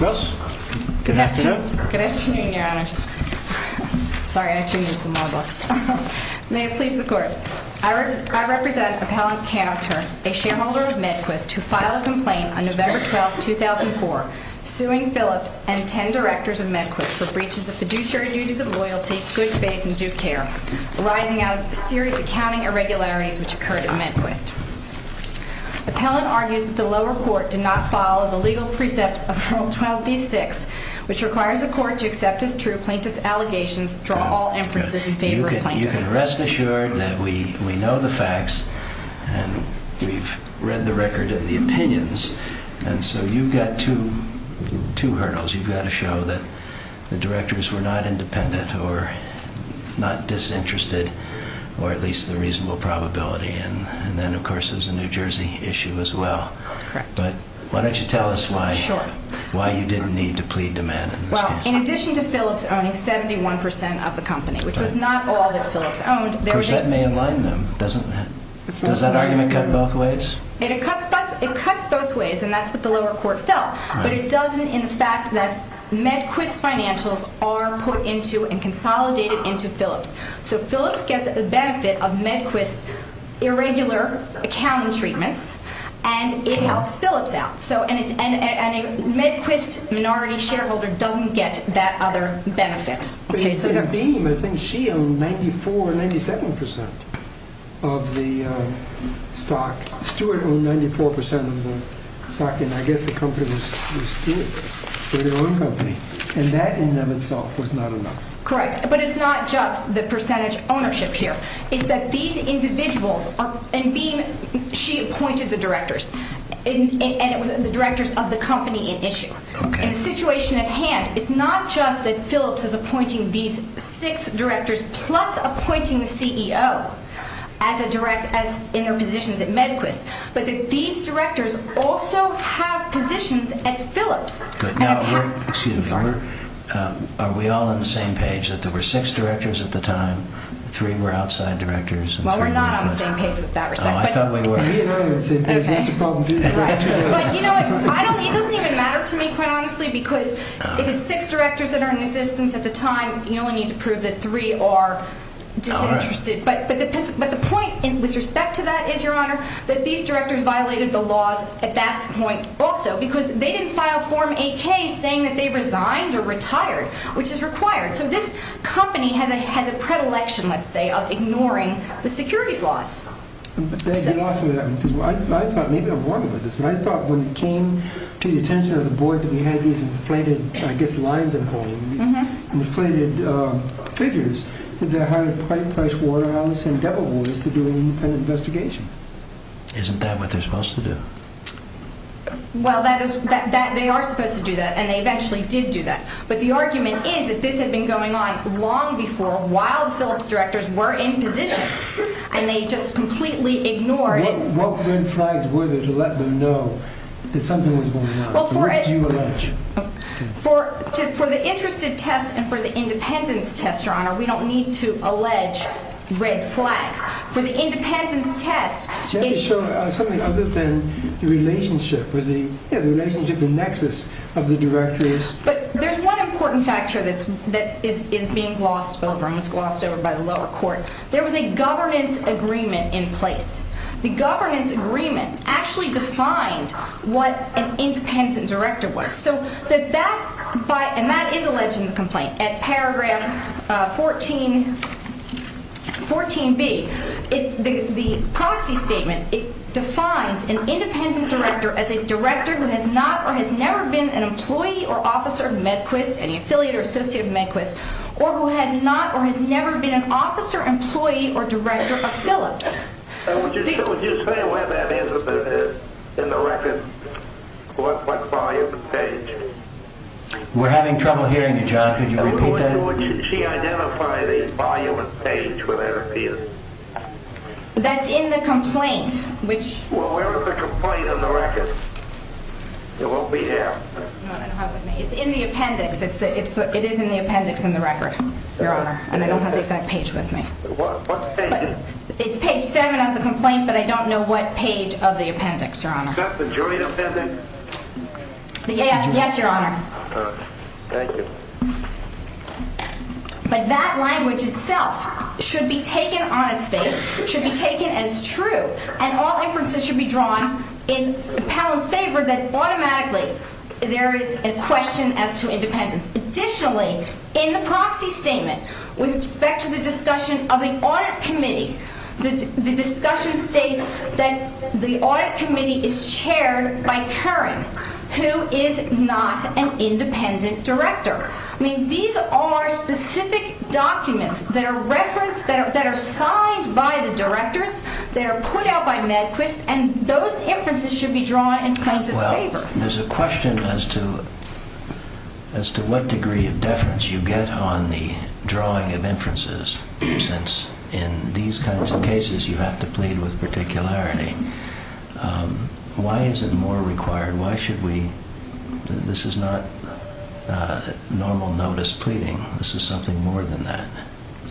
May it please the Court, I represent Appellant Canter, a shareholder of MedQuist, who filed a complaint on November 12, 2004, suing Phillips and 10 directors of MedQuist for breaches of fiduciary duties of loyalty, good faith, and due care, arising out of serious accounting irregularities which occurred at MedQuist. Appellant argues that the lower court did not follow the legal precepts of Article 12b-6, which requires the Court to accept as true plaintiff's allegations, draw all inferences in favor of plaintiff. You can rest assured that we know the facts and we've read the record of the opinions and so you've got two hurdles, you've got to show that the directors were not independent or not disinterested, or at least the reasonable probability, and then of course there's a New Jersey issue as well, but why don't you tell us why you didn't need to plead to Med? Well, in addition to Phillips owning 71% of the company, which was not all that Phillips owned. Of course, that may enlighten them, doesn't it? Does that argument cut both ways? It cuts both ways and that's what the lower court felt, but it doesn't in the fact that MedQuist owned 94% of the stock and Stewart owned 94% of the stock, and I guess the company was Stewart, they were their own company, and that in and of itself was not enough. Correct. But it's not just the percentage ownership here, it's that these individuals, and she appointed the directors, and it was the directors of the company in issue. Okay. And the situation at hand is not just that Phillips is appointing these six directors plus appointing the CEO in her positions at MedQuist, but that these directors also have positions at Phillips. Good. Now, excuse me. Sorry. Are we all on the same page that there were six directors at the time, three were outside directors? Well, we're not on the same page with that respect. Oh, I thought we were. He and I are on the same page. That's the problem. Right. But you know what? It doesn't even matter to me, quite honestly, because if it's six directors that are in existence at the time, you only need to prove that three are disinterested, but the point with respect to that is, Your Honor, that these directors violated the laws at that point also, because they didn't file Form 8K saying that they resigned or retired, which is required. So this company has a predilection, let's say, of ignoring the securities laws. I thought maybe I'm wrong about this, but I thought when it came to the attention of the board that we had these inflated, I guess, lines and holes, inflated figures, that they hired Pricewaterhouse and Devilwoods to do an independent investigation. Isn't that what they're supposed to do? Well, that is that they are supposed to do that, and they eventually did do that. But the argument is that this had been going on long before, while the Phillips directors were in position, and they just completely ignored it. What red flags were there to let them know that something was going on? What did you allege? For the interested test and for the independence test, Your Honor, we don't need to allege red flags. For the independence test, it's... So you're showing something other than the relationship or the relationship, the nexus of the directors. But there's one important fact here that is being glossed over and was glossed over by the lower court. There was a governance agreement in place. The governance agreement actually defined what an independent director was. So that that by, and that is alleged in the complaint, at paragraph 14, 14B, the proxy statement, it defines an independent director as a director who has not or has never been an employee or officer of Medquist, any affiliate or associate of Medquist, or who has not or has never been an officer, employee, or director of Phillips. Would you explain where that is in the record? What volume and page? We're having trouble hearing you, John. Could you repeat that? Would she identify the volume and page where that appears? That's in the complaint, which... Well, where is the complaint in the record? It won't be here. No, I don't have it with me. It's in the appendix. It is in the appendix in the record, Your Honor. And I don't have the exact page with me. What page? It's page seven of the complaint, but I don't know what page of the appendix, Your Honor. Is that the joint appendix? Yes, Your Honor. All right. Thank you. But that language itself should be taken honestly, should be taken as true, and all inferences should be drawn in the panel's favor that automatically there is a question as to independence. Additionally, in the proxy statement, with respect to the discussion of the audit committee, the discussion states that the audit committee is chaired by Curran, who is not an independent director. I mean, these are specific documents that are referenced, that are signed by the directors, that are put out by Medquist, and those inferences should be drawn in plaintiff's favor. There's a question as to what degree of deference you get on the drawing of inferences, since in these kinds of cases you have to plead with particularity. Why is it more required? Why should we? This is not normal notice pleading. This is something more than that.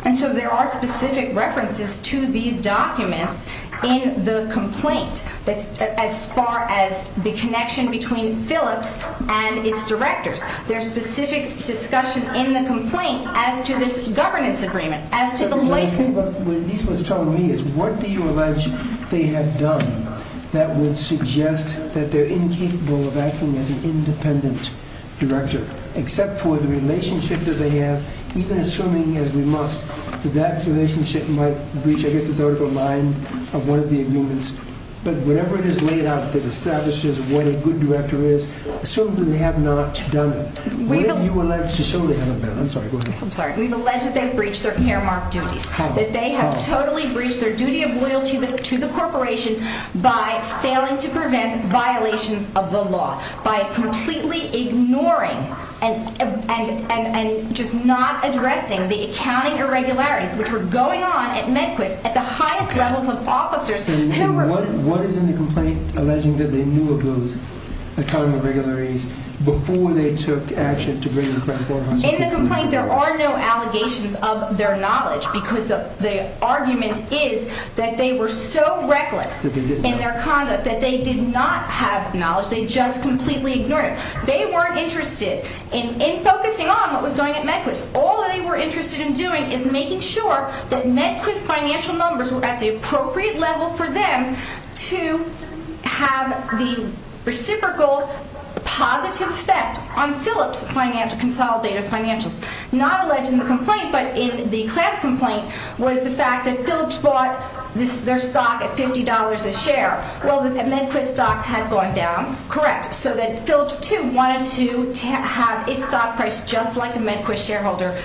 And so there are specific references to these documents in the complaint, as far as the connection between Phillips and its directors. There's specific discussion in the complaint as to this governance agreement, as to the license. What this was telling me is what do you allege they have done that would suggest that they're incapable of acting as an independent director, except for the relationship that they have, even assuming, as we must, that that relationship might breach, I guess, of one of the agreements. But whatever it is laid out that establishes what a good director is, assuming they have not done it, what have you alleged to show the other men? I'm sorry, go ahead. I'm sorry. We've alleged that they've breached their earmarked duties, that they have totally breached their duty of loyalty to the corporation by failing to prevent violations of the law, by completely ignoring and just not addressing the accounting irregularities which were going on at Medquist, at the highest levels of officers who were... What is in the complaint alleging that they knew of those accounting irregularities before they took action to bring them in front of Board of Trustees? In the complaint, there are no allegations of their knowledge because the argument is that they were so reckless in their conduct that they did not have knowledge. They just completely ignored it. They weren't interested in focusing on what was going on at Medquist. All they were interested in doing is making sure that Medquist financial numbers were at the appropriate level for them to have the reciprocal positive effect on Phillips consolidated financials. Not alleged in the complaint, but in the class complaint, was the fact that Phillips bought their stock at $50 a share. Well, the Medquist stocks had gone down. Correct. So that Phillips, too, wanted to have a stock price just like a Medquist shareholder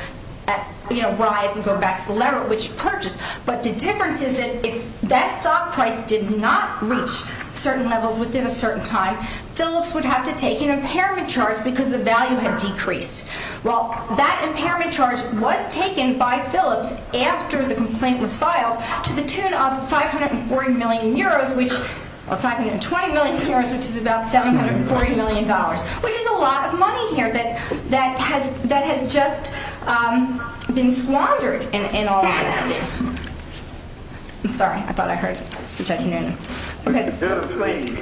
rise and go back to the level at which it purchased. But the difference is that if that stock price did not reach certain levels within a certain time, Phillips would have to take an impairment charge because the value had decreased. Well, that impairment charge was taken by Phillips after the complaint was filed to the tune of 540 million euros, or 520 million euros, which is about $740 million, which is a lot of money here that has just been squandered in all honesty. I'm sorry. I thought I heard Judge Noonan. You heard a sneeze.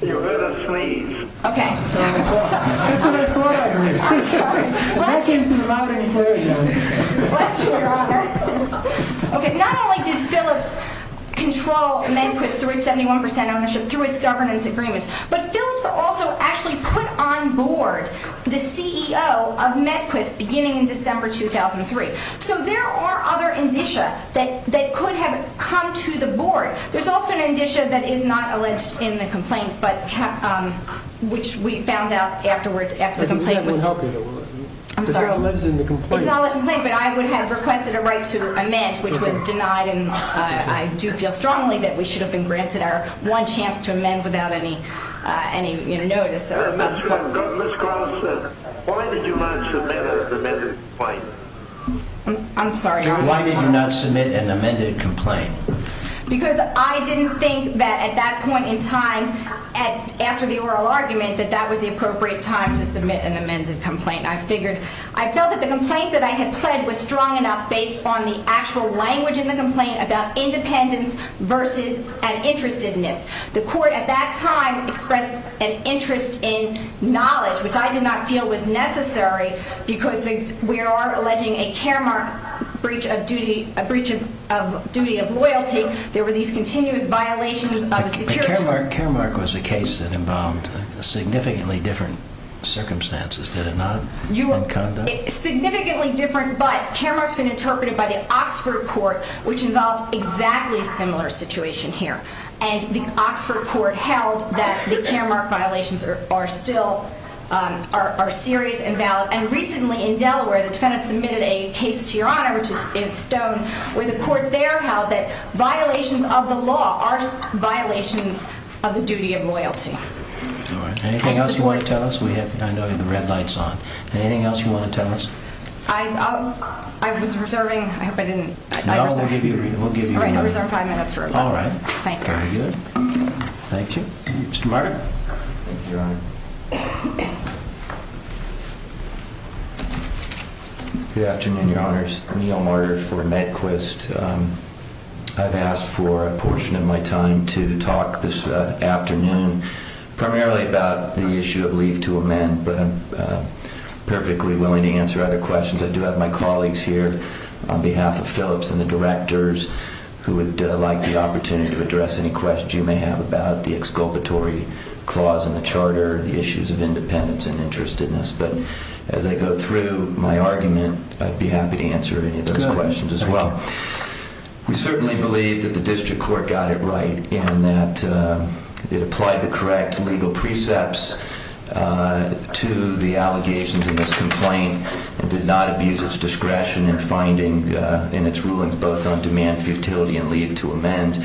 You heard a sneeze. Okay. That's what I thought I heard. I'm sorry. That came from the loud enclosure. Bless you, Your Honor. Okay. Not only did Phillips control Medquist through its 71% ownership, through its governance agreements, but Phillips also actually put on board the CEO of Medquist beginning in December 2003. So there are other indicia that could have come to the board. There's also an indicia that is not alleged in the complaint, which we found out afterwards after the complaint was filed. It's not alleged in the complaint. It's not alleged in the complaint, but I would have requested a right to amend, which was denied, and I do feel strongly that we should have been granted our one chance to amend without any notice. Ms. Carlson, why did you not submit an amended complaint? I'm sorry. Why did you not submit an amended complaint? Because I didn't think that at that point in time, after the oral argument, that that was the appropriate time to submit an amended complaint. I felt that the complaint that I had pled was strong enough based on the actual language in the complaint about independence versus an interestedness. The court at that time expressed an interest in knowledge, which I did not feel was necessary because we are alleging a care mark, a breach of duty of loyalty. There were these continuous violations of security. A care mark was a case that involved significantly different circumstances. Did it not in conduct? Significantly different, but care marks have been interpreted by the Oxford Court, which involved exactly a similar situation here. And the Oxford Court held that the care mark violations are still serious and valid. And recently in Delaware, the defendant submitted a case to Your Honor, which is in Stone, where the court there held that violations of the law are violations of the duty of loyalty. Anything else you want to tell us? I know you have the red lights on. Anything else you want to tell us? I was reserving. I hope I didn't. No, we'll give you a reason. All right. I'll reserve five minutes for a moment. All right. Very good. Thank you. Mr. Marder. Thank you, Your Honor. Good afternoon, Your Honors. Neal Marder for MedQuist. I've asked for a portion of my time to talk this afternoon primarily about the issue of leave to amend, but I'm perfectly willing to answer other questions. I do have my colleagues here on behalf of Phillips and the directors who would like the opportunity to address any questions you may have about the exculpatory clause in the charter, the issues of independence and interestedness. But as I go through my argument, I'd be happy to answer any of those questions as well. We certainly believe that the district court got it right and that it applied the correct legal precepts to the allegations in this complaint and did not abuse its discretion in finding in its rulings both on demand futility and leave to amend.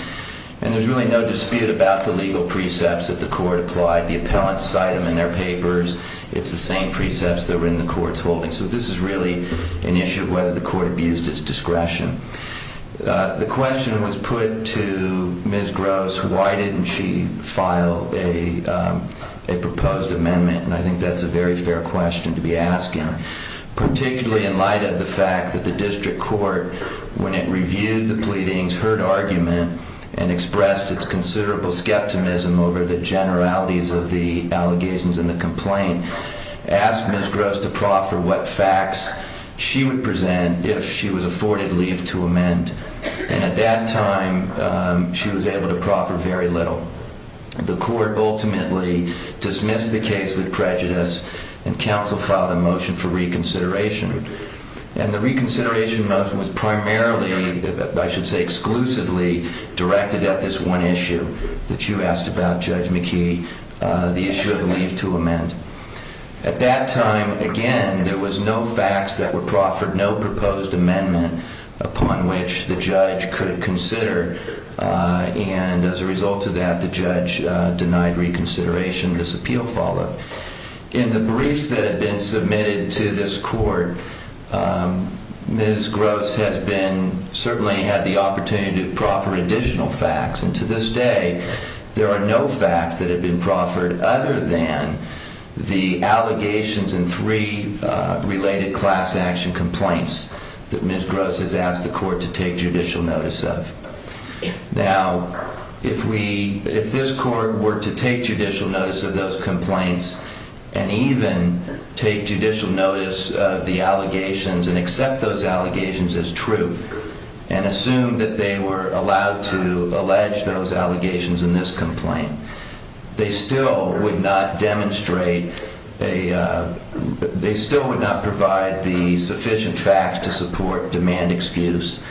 And there's really no dispute about the legal precepts that the court applied. The appellants cite them in their papers. It's the same precepts that were in the court's holding. So this is really an issue of whether the court abused its discretion. The question was put to Ms. Gross, why didn't she file a proposed amendment? And I think that's a very fair question to be asking, particularly in light of the fact that the district court, when it reviewed the pleadings, heard argument and expressed its considerable skepticism over the generalities of the allegations in the complaint, asked Ms. Gross to proffer what facts she would present if she was afforded leave to amend. And at that time, she was able to proffer very little. The court ultimately dismissed the case with prejudice and counsel filed a motion for reconsideration. And the reconsideration motion was primarily, I should say exclusively, directed at this one issue that you asked about, Judge McKee, the issue of leave to amend. At that time, again, there was no facts that were proffered, no proposed amendment upon which the judge could consider. And as a result of that, the judge denied reconsideration. This appeal followed. In the briefs that have been submitted to this court, Ms. Gross has been, certainly had the opportunity to proffer additional facts. And to this day, there are no facts that have been proffered other than the allegations and three related class action complaints that Ms. Gross has asked the court to take judicial notice of. Now, if this court were to take judicial notice of those complaints and even take judicial notice of the allegations and accept those allegations as true and assume that they were allowed to allege those allegations in this complaint, they still would not demonstrate a... They still would not provide the sufficient facts to support demand excuse.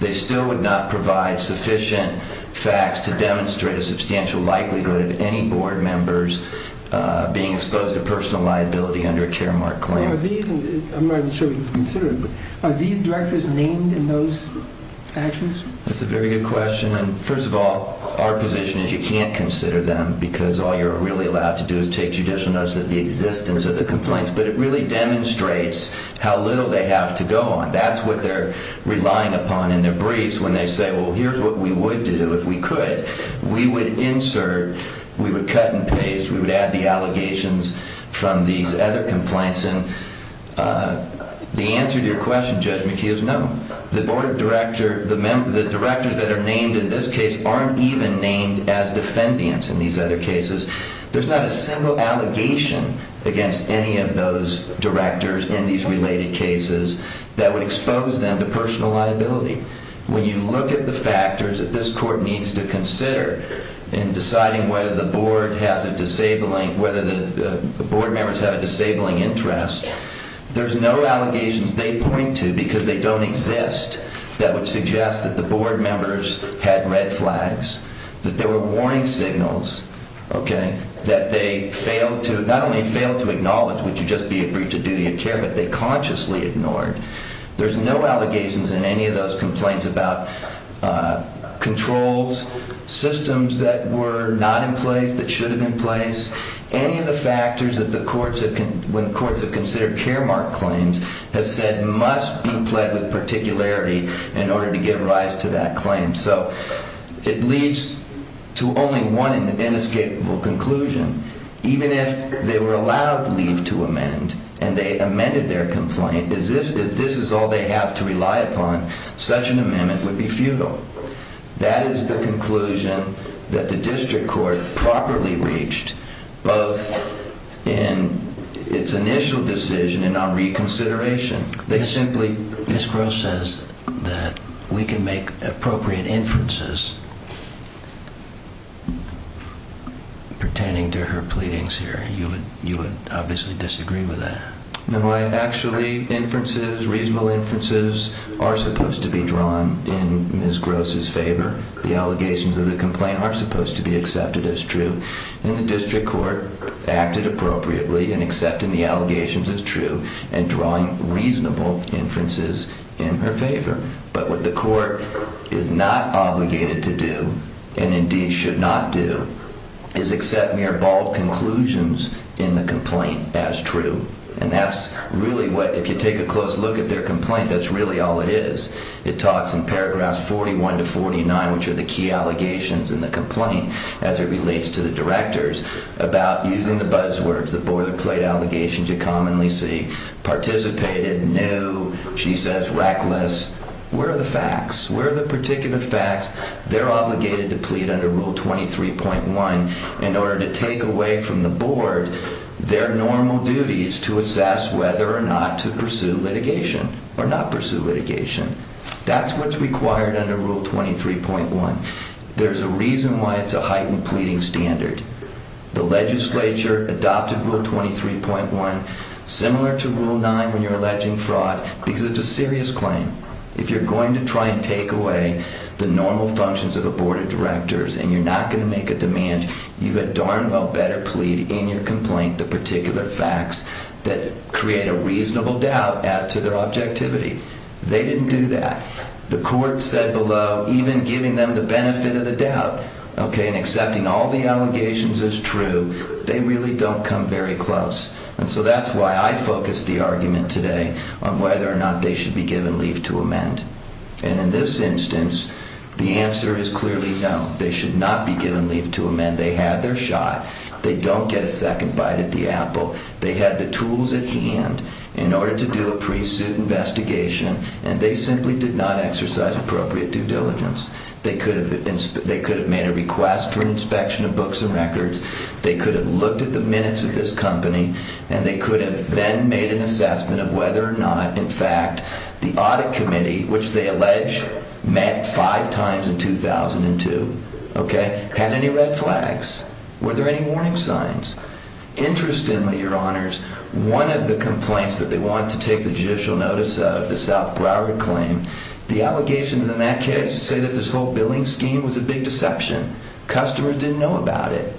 They still would not provide sufficient facts to demonstrate a substantial likelihood of any board members being exposed to personal liability under a caremark claim. I'm not even sure we can consider it, but are these directors named in those actions? That's a very good question. First of all, our position is you can't consider them because all you're really allowed to do is take judicial notice of the existence of the complaints. But it really demonstrates how little they have to go on. That's what they're relying upon in their briefs when they say, well, here's what we would do if we could. We would insert, we would cut and paste, we would add the allegations from these other complaints. And the answer to your question, Judge McKee, is no. The board director... The directors that are named in this case aren't even named as defendants in these other cases. There's not a single allegation against any of those directors in these related cases that would expose them to personal liability. When you look at the factors that this court needs to consider in deciding whether the board has a disabling... There's no allegations they point to because they don't exist that would suggest that the board members had red flags, that there were warning signals, OK, that they not only failed to acknowledge, which would just be a breach of duty of care, but they consciously ignored. There's no allegations in any of those complaints about controls, systems that were not in place, that should have been placed, any of the factors when courts have considered care mark claims have said must be pled with particularity in order to give rise to that claim. So it leads to only one inescapable conclusion. Even if they were allowed leave to amend and they amended their complaint, as if this is all they have to rely upon, such an amendment would be futile. That is the conclusion that the district court properly reached both in its initial decision and on reconsideration. They simply... Ms. Gross says that we can make appropriate inferences pertaining to her pleadings here. You would obviously disagree with that. No, actually, inferences, reasonable inferences, are supposed to be drawn in Ms. Gross's favour. The allegations of the complaint are supposed to be accepted as true. And the district court acted appropriately in accepting the allegations as true and drawing reasonable inferences in her favour. But what the court is not obligated to do, and indeed should not do, is accept mere bald conclusions in the complaint as true. And that's really what... If you take a close look at their complaint, that's really all it is. It talks in paragraphs 41 to 49, which are the key allegations in the complaint, as it relates to the directors, about using the buzzwords, the boilerplate allegations you commonly see, participated, knew, she says reckless. Where are the facts? Where are the particular facts they're obligated to plead under Rule 23.1 in order to take away from the board their normal duties to assess whether or not to pursue litigation or not pursue litigation? That's what's required under Rule 23.1. There's a reason why it's a heightened pleading standard. The legislature adopted Rule 23.1, similar to Rule 9 when you're alleging fraud, because it's a serious claim. If you're going to try and take away the normal functions of a board of directors and you're not going to make a demand, you had darn well better plead in your complaint the particular facts that create a reasonable doubt as to their objectivity. They didn't do that. The court said below, even giving them the benefit of the doubt and accepting all the allegations as true, they really don't come very close. And so that's why I focused the argument today on whether or not they should be given leave to amend. And in this instance, the answer is clearly no. They should not be given leave to amend. They had their shot. They don't get a second bite at the apple. They had the tools at hand in order to do a pre-suit investigation, and they simply did not exercise appropriate due diligence. They could have made a request for an inspection of books and records. They could have looked at the minutes of this company, and they could have then made an assessment of whether or not, in fact, the audit committee, which they allege met five times in 2002, had any red flags. Were there any warning signs? Interestingly, Your Honors, one of the complaints that they wanted to take the judicial notice of was the South Broward claim. The allegations in that case say that this whole billing scheme was a big deception. Customers didn't know about it.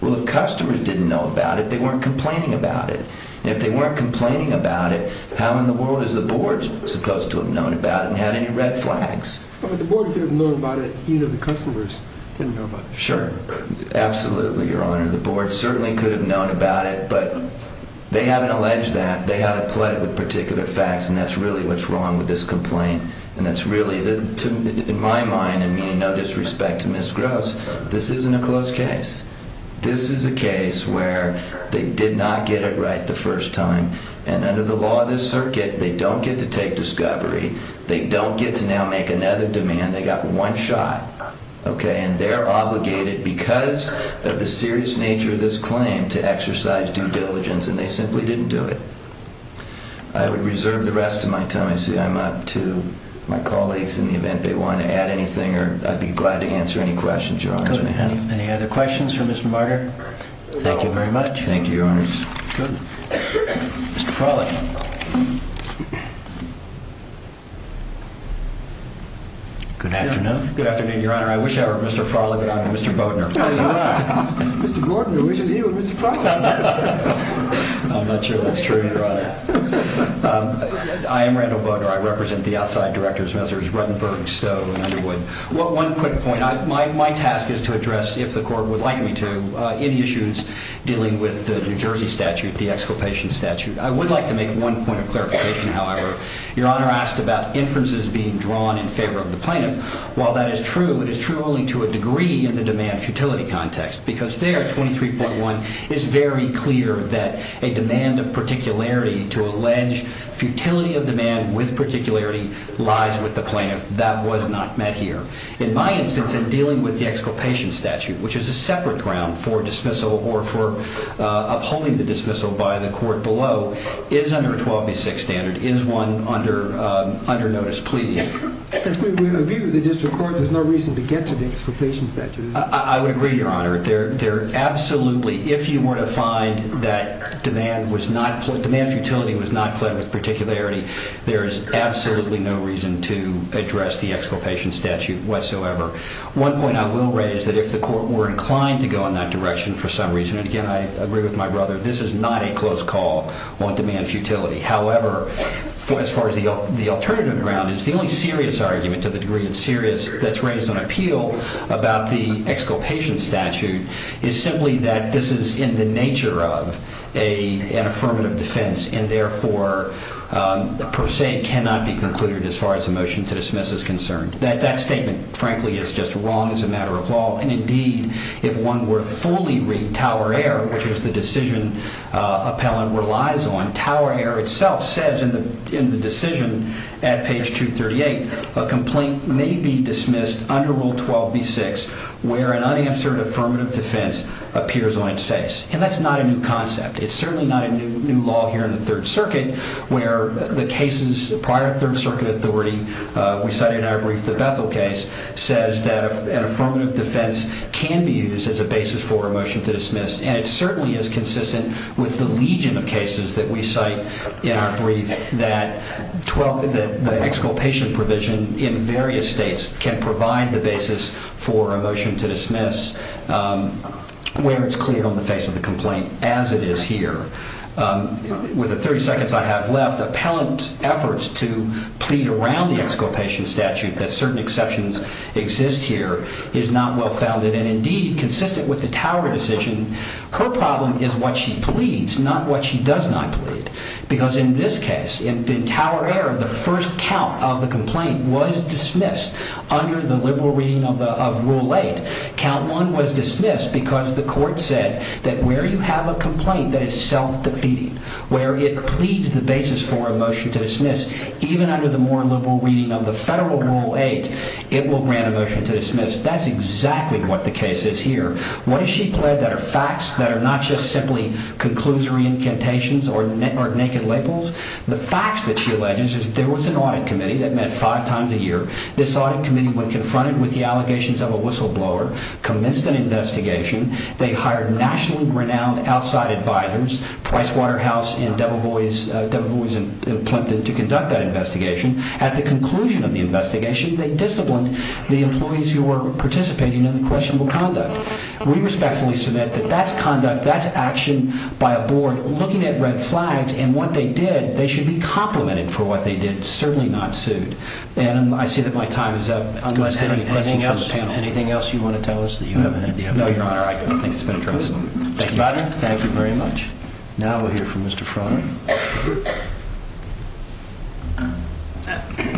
Well, if customers didn't know about it, they weren't complaining about it. If they weren't complaining about it, how in the world is the board supposed to have known about it and had any red flags? The board could have known about it, even if the customers didn't know about it. Sure, absolutely, Your Honor. The board certainly could have known about it, but they haven't alleged that. They had to play it with particular facts, and that's really what's wrong with this complaint. And that's really, in my mind, and meaning no disrespect to Ms. Gross, this isn't a closed case. This is a case where they did not get it right the first time, and under the law of this circuit, they don't get to take discovery. They don't get to now make another demand. They got one shot, okay? And they're obligated, because of the serious nature of this claim, to exercise due diligence, and they simply didn't do it. I would reserve the rest of my time. I see I'm up to my colleagues in the event they want to add anything, or I'd be glad to answer any questions, Your Honors. Any other questions for Mr. Barger? Thank you very much. Thank you, Your Honors. Mr. Farley. Good afternoon. Good afternoon, Your Honor. I wish I were Mr. Farley, but I'm Mr. Bodner. Mr. Bodner wishes he were Mr. Farley. I'm not sure that's true, Your Honor. I am Randall Bodner. I represent the outside directors, Messrs. Ruttenberg, Stowe, and Underwood. One quick point. My task is to address, if the court would like me to, any issues dealing with the New Jersey statute, the exculpation statute. I would like to make one point of clarification, however. Your Honor asked about inferences being drawn in favor of the plaintiff. While that is true, it is true only to a degree in the demand-futility context, because there, 23.1, is very clear that a demand of particularity to allege futility of demand with particularity lies with the plaintiff. That was not met here. In my instance, in dealing with the exculpation statute, which is a separate ground for dismissal or for upholding the dismissal by the court below, is under a 12B6 standard. Is one under notice pleading? If we agree with the district court, there's no reason to get to the exculpation statute. I would agree, Your Honor. Absolutely, if you were to find that demand futility was not pled with particularity, there is absolutely no reason to address the exculpation statute whatsoever. One point I will raise is that if the court were inclined to go in that direction for some reason, and again, I agree with my brother, this is not a close call on demand-futility. However, as far as the alternative ground is, the only serious argument, to the degree it's serious, that's raised on appeal about the exculpation statute is simply that this is in the nature of an affirmative defense and therefore, per se, cannot be concluded as far as a motion to dismiss is concerned. That statement, frankly, is just wrong as a matter of law, and indeed, if one were to fully read Tower Air, which is the decision Appellant relies on, Tower Air itself says in the decision at page 238, a complaint may be dismissed under Rule 12b-6 where an unanswered affirmative defense appears on its face, and that's not a new concept. It's certainly not a new law here in the Third Circuit where the cases prior to Third Circuit authority, we cited in our brief the Bethel case, says that an affirmative defense can be used as a basis for a motion to dismiss, that we cite in our brief that the exculpation provision in various states can provide the basis for a motion to dismiss where it's clear on the face of the complaint, as it is here. With the 30 seconds I have left, Appellant's efforts to plead around the exculpation statute that certain exceptions exist here is not well-founded, and indeed, consistent with the Tower decision, her problem is what she pleads, not what she does not plead, because in this case, in Tower error, the first count of the complaint was dismissed under the liberal reading of Rule 8. Count 1 was dismissed because the court said that where you have a complaint that is self-defeating, where it pleads the basis for a motion to dismiss, even under the more liberal reading of the federal Rule 8, it will grant a motion to dismiss. That's exactly what the case is here. What does she plead that are facts, that are not just simply conclusory incantations or naked labels? The facts that she alleges is there was an audit committee that met five times a year. This audit committee, when confronted with the allegations of a whistleblower, commenced an investigation. They hired nationally renowned outside advisors, Pricewaterhouse and Debevoise and Plimpton, to conduct that investigation. At the conclusion of the investigation, they disciplined the employees who were participating in the questionable conduct. We respectfully submit that that's conduct, but that's action by a board looking at red flags and what they did. They should be complimented for what they did, certainly not sued. I see that my time is up. Anything else you want to tell us? No, Your Honor. I don't think it's been addressed. Thank you very much. Now we'll hear from Mr. Frawley.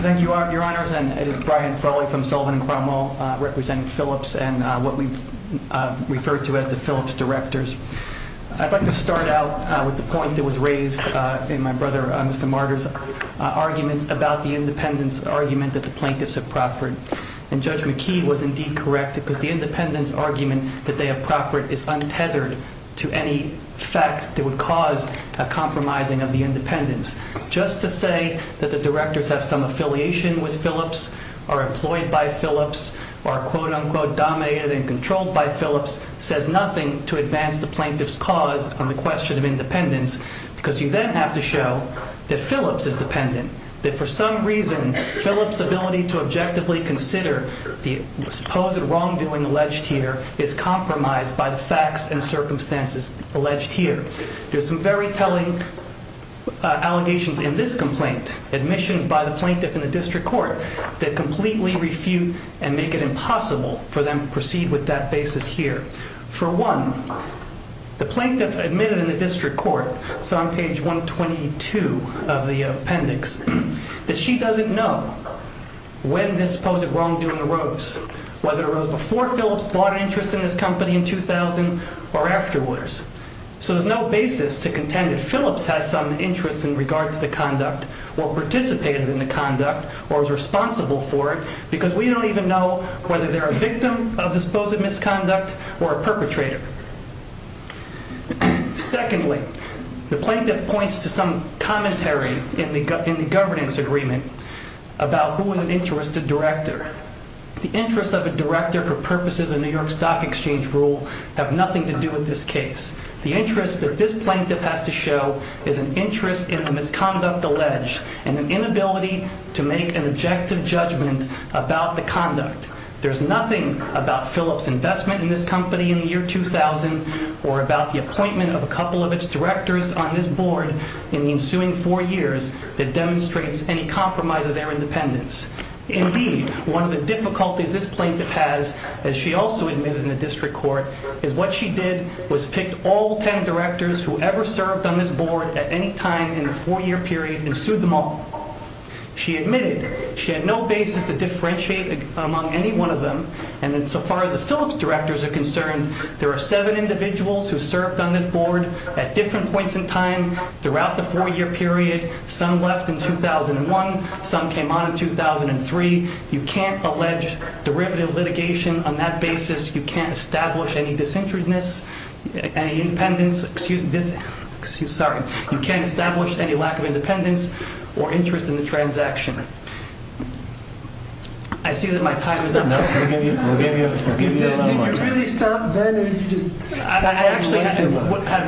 Thank you, Your Honors. It is Brian Frawley from Sullivan and Cromwell representing Phillips and what we've referred to as the Phillips Directors. I'd like to start out with the point that was raised in my brother, Mr. Martyr's, arguments about the independence argument that the plaintiffs have proffered. And Judge McKee was indeed correct because the independence argument that they have proffered is untethered to any fact that would cause a compromising of the independence. Just to say that the directors have some affiliation with Phillips, are employed by Phillips, are quote-unquote dominated and controlled by Phillips says nothing to advance the plaintiff's cause on the question of independence because you then have to show that Phillips is dependent. That for some reason, Phillips' ability to objectively consider the supposed wrongdoing alleged here is compromised by the facts and circumstances alleged here. There's some very telling allegations in this complaint, admissions by the plaintiff in the district court that completely refute and make it impossible for them to proceed with that basis here. For one, the plaintiff admitted in the district court, it's on page 122 of the appendix, that she doesn't know when this supposed wrongdoing arose, whether it arose before Phillips bought an interest in this company in 2000 or afterwards. So there's no basis to contend that Phillips has some interest in regards to the conduct or participated in the conduct or was responsible for it and we don't even know whether they're a victim of this supposed misconduct or a perpetrator. Secondly, the plaintiff points to some commentary in the governance agreement about who was an interested director. The interest of a director for purposes of New York Stock Exchange rule have nothing to do with this case. The interest that this plaintiff has to show is an interest in the misconduct alleged and an inability to make an objective judgment about the conduct. There's nothing about Phillips' investment in this company in the year 2000 or about the appointment of a couple of its directors on this board in the ensuing four years that demonstrates any compromise of their independence. Indeed, one of the difficulties this plaintiff has, as she also admitted in the district court, is what she did was pick all ten directors who ever served on this board at any time in the four year period and sued them all. She admitted she had no basis to differentiate among any one of them and so far as the Phillips directors are concerned, there are seven individuals who served on this board at different points in time throughout the four year period. Some left in 2001. Some came on in 2003. You can't allege derivative litigation on that basis. You can't establish any disinterestedness, any independence, excuse me, you can't establish any lack of independence or interest in the transaction. I see that my time is up. No, we'll give you a little more time. Did you really stop then? I actually had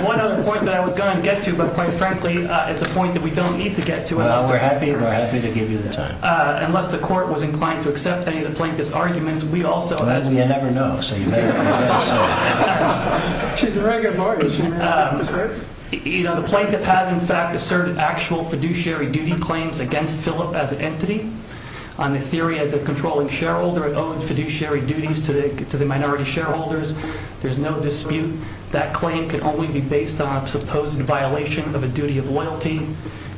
one other point that I was going to get to, but quite frankly, it's a point that we don't need to get to. Well, we're happy to give you the time. Unless the court was inclined to accept any of the plaintiff's arguments, we also... Well, as you never know, so you may never know. She's a very good lawyer. You know, the plaintiff has in fact asserted actual fiduciary duty claims against Phillip as an entity. On the theory as a controlling shareholder, it owed fiduciary duties to the minority shareholders. There's no dispute. That claim can only be based on a supposed violation of a duty of loyalty.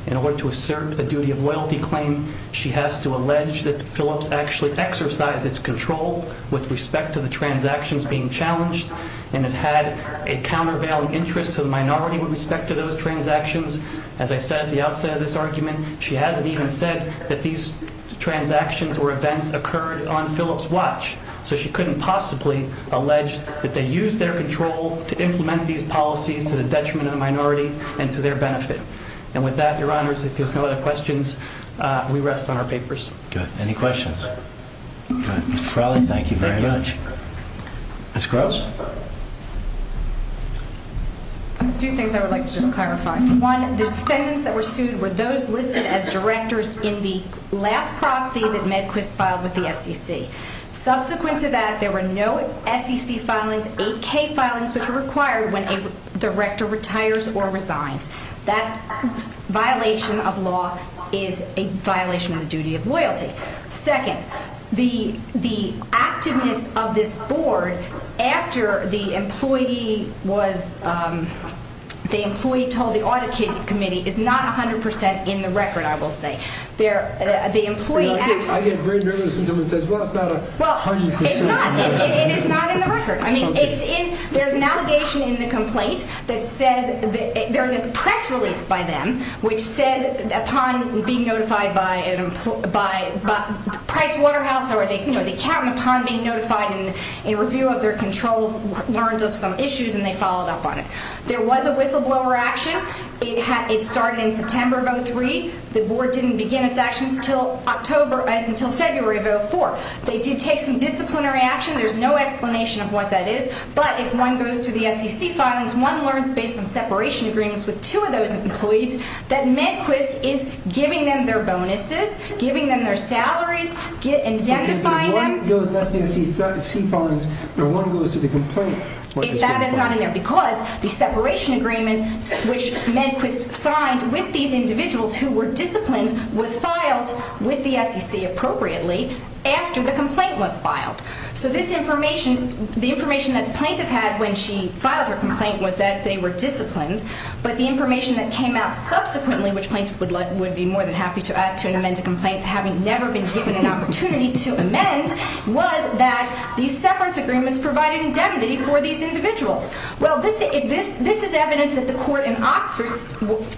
In order to assert a duty of loyalty claim, she has to allege that Phillips actually exercised its control and it had a countervailing interest to the minority with respect to those transactions. As I said at the outset of this argument, she hasn't even said that these transactions or events occurred on Phillips' watch, so she couldn't possibly allege that they used their control to implement these policies to the detriment of the minority and to their benefit. And with that, Your Honors, if there's no other questions, we rest on our papers. Good. Any questions? Mr. Farrelly, thank you very much. Ms. Gross? A few things I would like to just clarify. One, the defendants that were sued were those listed as directors in the last proxy that Medquist filed with the SEC. Subsequent to that, there were no SEC filings, 8K filings, which are required when a director retires or resigns. That violation of law is a violation of the duty of loyalty. Second, the activeness of this board after the employee was... the employee told the Audit Committee is not 100% in the record, I will say. The employee... I get very nervous when someone says, well, it's not 100% in the record. It is not in the record. There's an allegation in the complaint that says there's a press release by them which says upon being notified by Pricewaterhouse or they count upon being notified in review of their controls, learned of some issues and they followed up on it. There was a whistleblower action. It started in September of 2003. The board didn't begin its actions until February of 2004. They did take some disciplinary action. There's no explanation of what that is. But if one goes to the SEC filings, one learns based on separation agreements with two of those employees that Medquist is giving them their bonuses, giving them their salaries, indemnifying them... If one goes to the SEC filings and one goes to the complaint... If that is not in there because the separation agreement which Medquist signed with these individuals who were disciplined was filed with the SEC appropriately after the complaint was filed. So this information, the information that the plaintiff had when she filed her complaint was that they were disciplined. But the information that came out subsequently which plaintiff would be more than happy to amend a complaint having never been given an opportunity to amend was that these separation agreements provided indemnity for these individuals. Well, this is evidence that the court in Oxford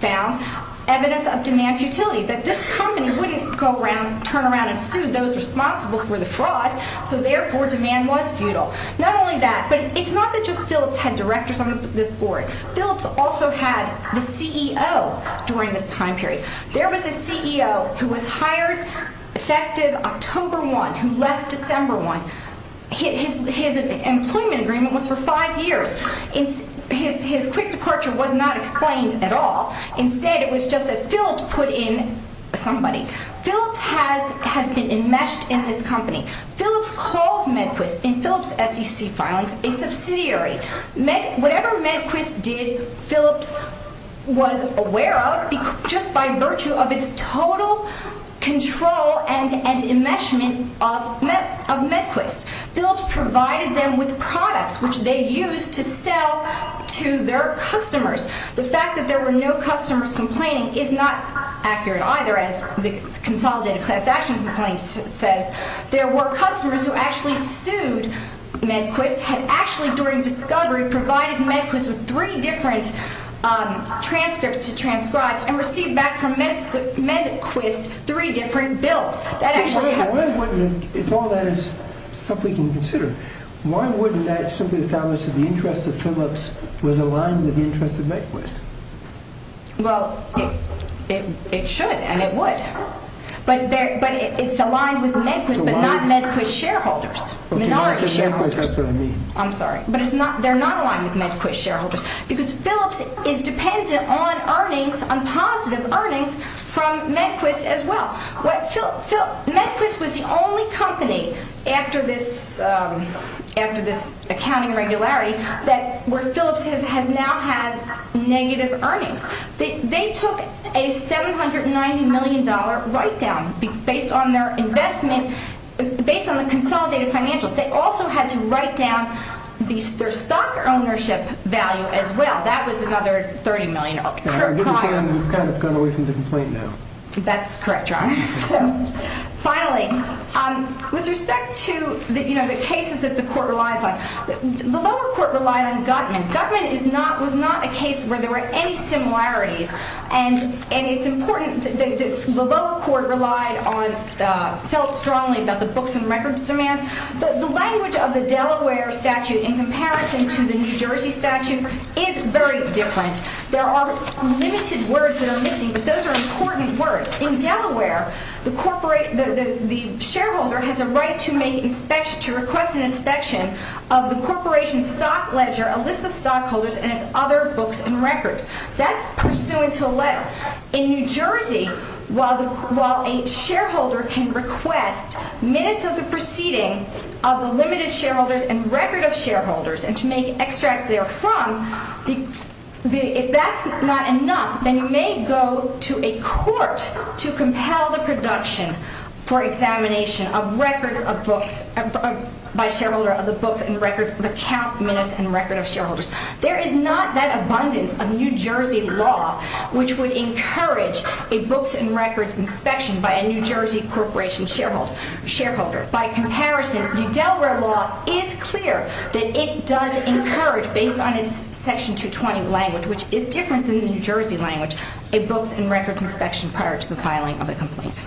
found evidence of demand futility, that this company wouldn't go around, turn around and sue those responsible for the fraud, so therefore demand was futile. Not only that, but it's not that just Phillips had directors on this board. Phillips also had the CEO during this time period. There was a CEO who was hired effective October 1, who left December 1. His employment agreement was for five years. His quick departure was not explained at all. Instead, it was just that Phillips put in somebody. Phillips has been enmeshed in this company. Phillips calls Medquist in Phillips' SEC filings a subsidiary. Whatever Medquist did, Phillips was aware of just by virtue of its total control and enmeshment of Medquist. Phillips provided them with products which they used to sell to their customers. The fact that there were no customers complaining is not accurate either, as the consolidated class action complaint says. There were customers who actually sued Medquist and actually during discovery provided Medquist with three different transcripts to transcribes and received back from Medquist three different bills. If all that is stuff we can consider, why wouldn't that simply establish that the interest of Phillips was aligned with the interest of Medquist? Well, it should and it would, but it's aligned with Medquist but not Medquist shareholders, minority shareholders. I'm sorry, but they're not aligned with Medquist shareholders because Phillips is dependent on earnings, on positive earnings from Medquist as well. Medquist was the only company after this accounting regularity where Phillips has now had negative earnings. They took a $790 million write-down based on their investment based on the consolidated financials. They also had to write down their stock ownership value as well. That was another $30 million. We've kind of gone away from the complaint now. That's correct, Your Honor. Finally, with respect to the cases that the court relies on, the lower court relied on Gutman. Gutman was not a case where there were any similarities and it's important that the lower court relied on, felt strongly about the books and records demand. The language of the Delaware statute in comparison to the New Jersey statute is very different. There are limited words that are missing, but those are important words. In Delaware, the shareholder has a right to request an inspection of the corporation's stock ledger, a list of stockholders, and its other books and records. That's pursuant to a letter. In New Jersey, while a shareholder can request minutes of the proceeding of the limited shareholders and record of shareholders and to make extracts therefrom, if that's not enough, then you may go to a court to compel the production for examination of records of books by shareholder of the books and records of account minutes and record of shareholders. There is not that abundance of New Jersey law which would encourage a books and records inspection by a New Jersey corporation shareholder. By comparison, the Delaware law is clear that it does encourage, based on its Section 220 language, which is different than the New Jersey language, a books and records inspection prior to the filing of a complaint.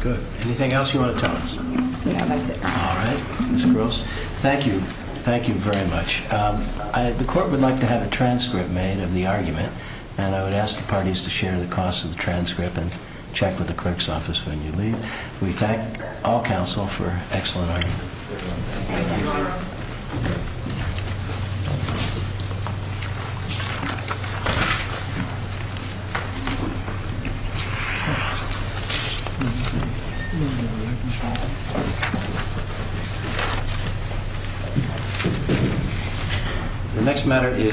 Good. Anything else you want to tell us? No, that's it. All right. Ms. Gross, thank you. Thank you very much. The court would like to have a transcript made of the argument, and I would ask the parties to share the cost of the transcript and check with the clerk's office when you leave. We thank all counsel for an excellent argument. Thank you. The next matter is...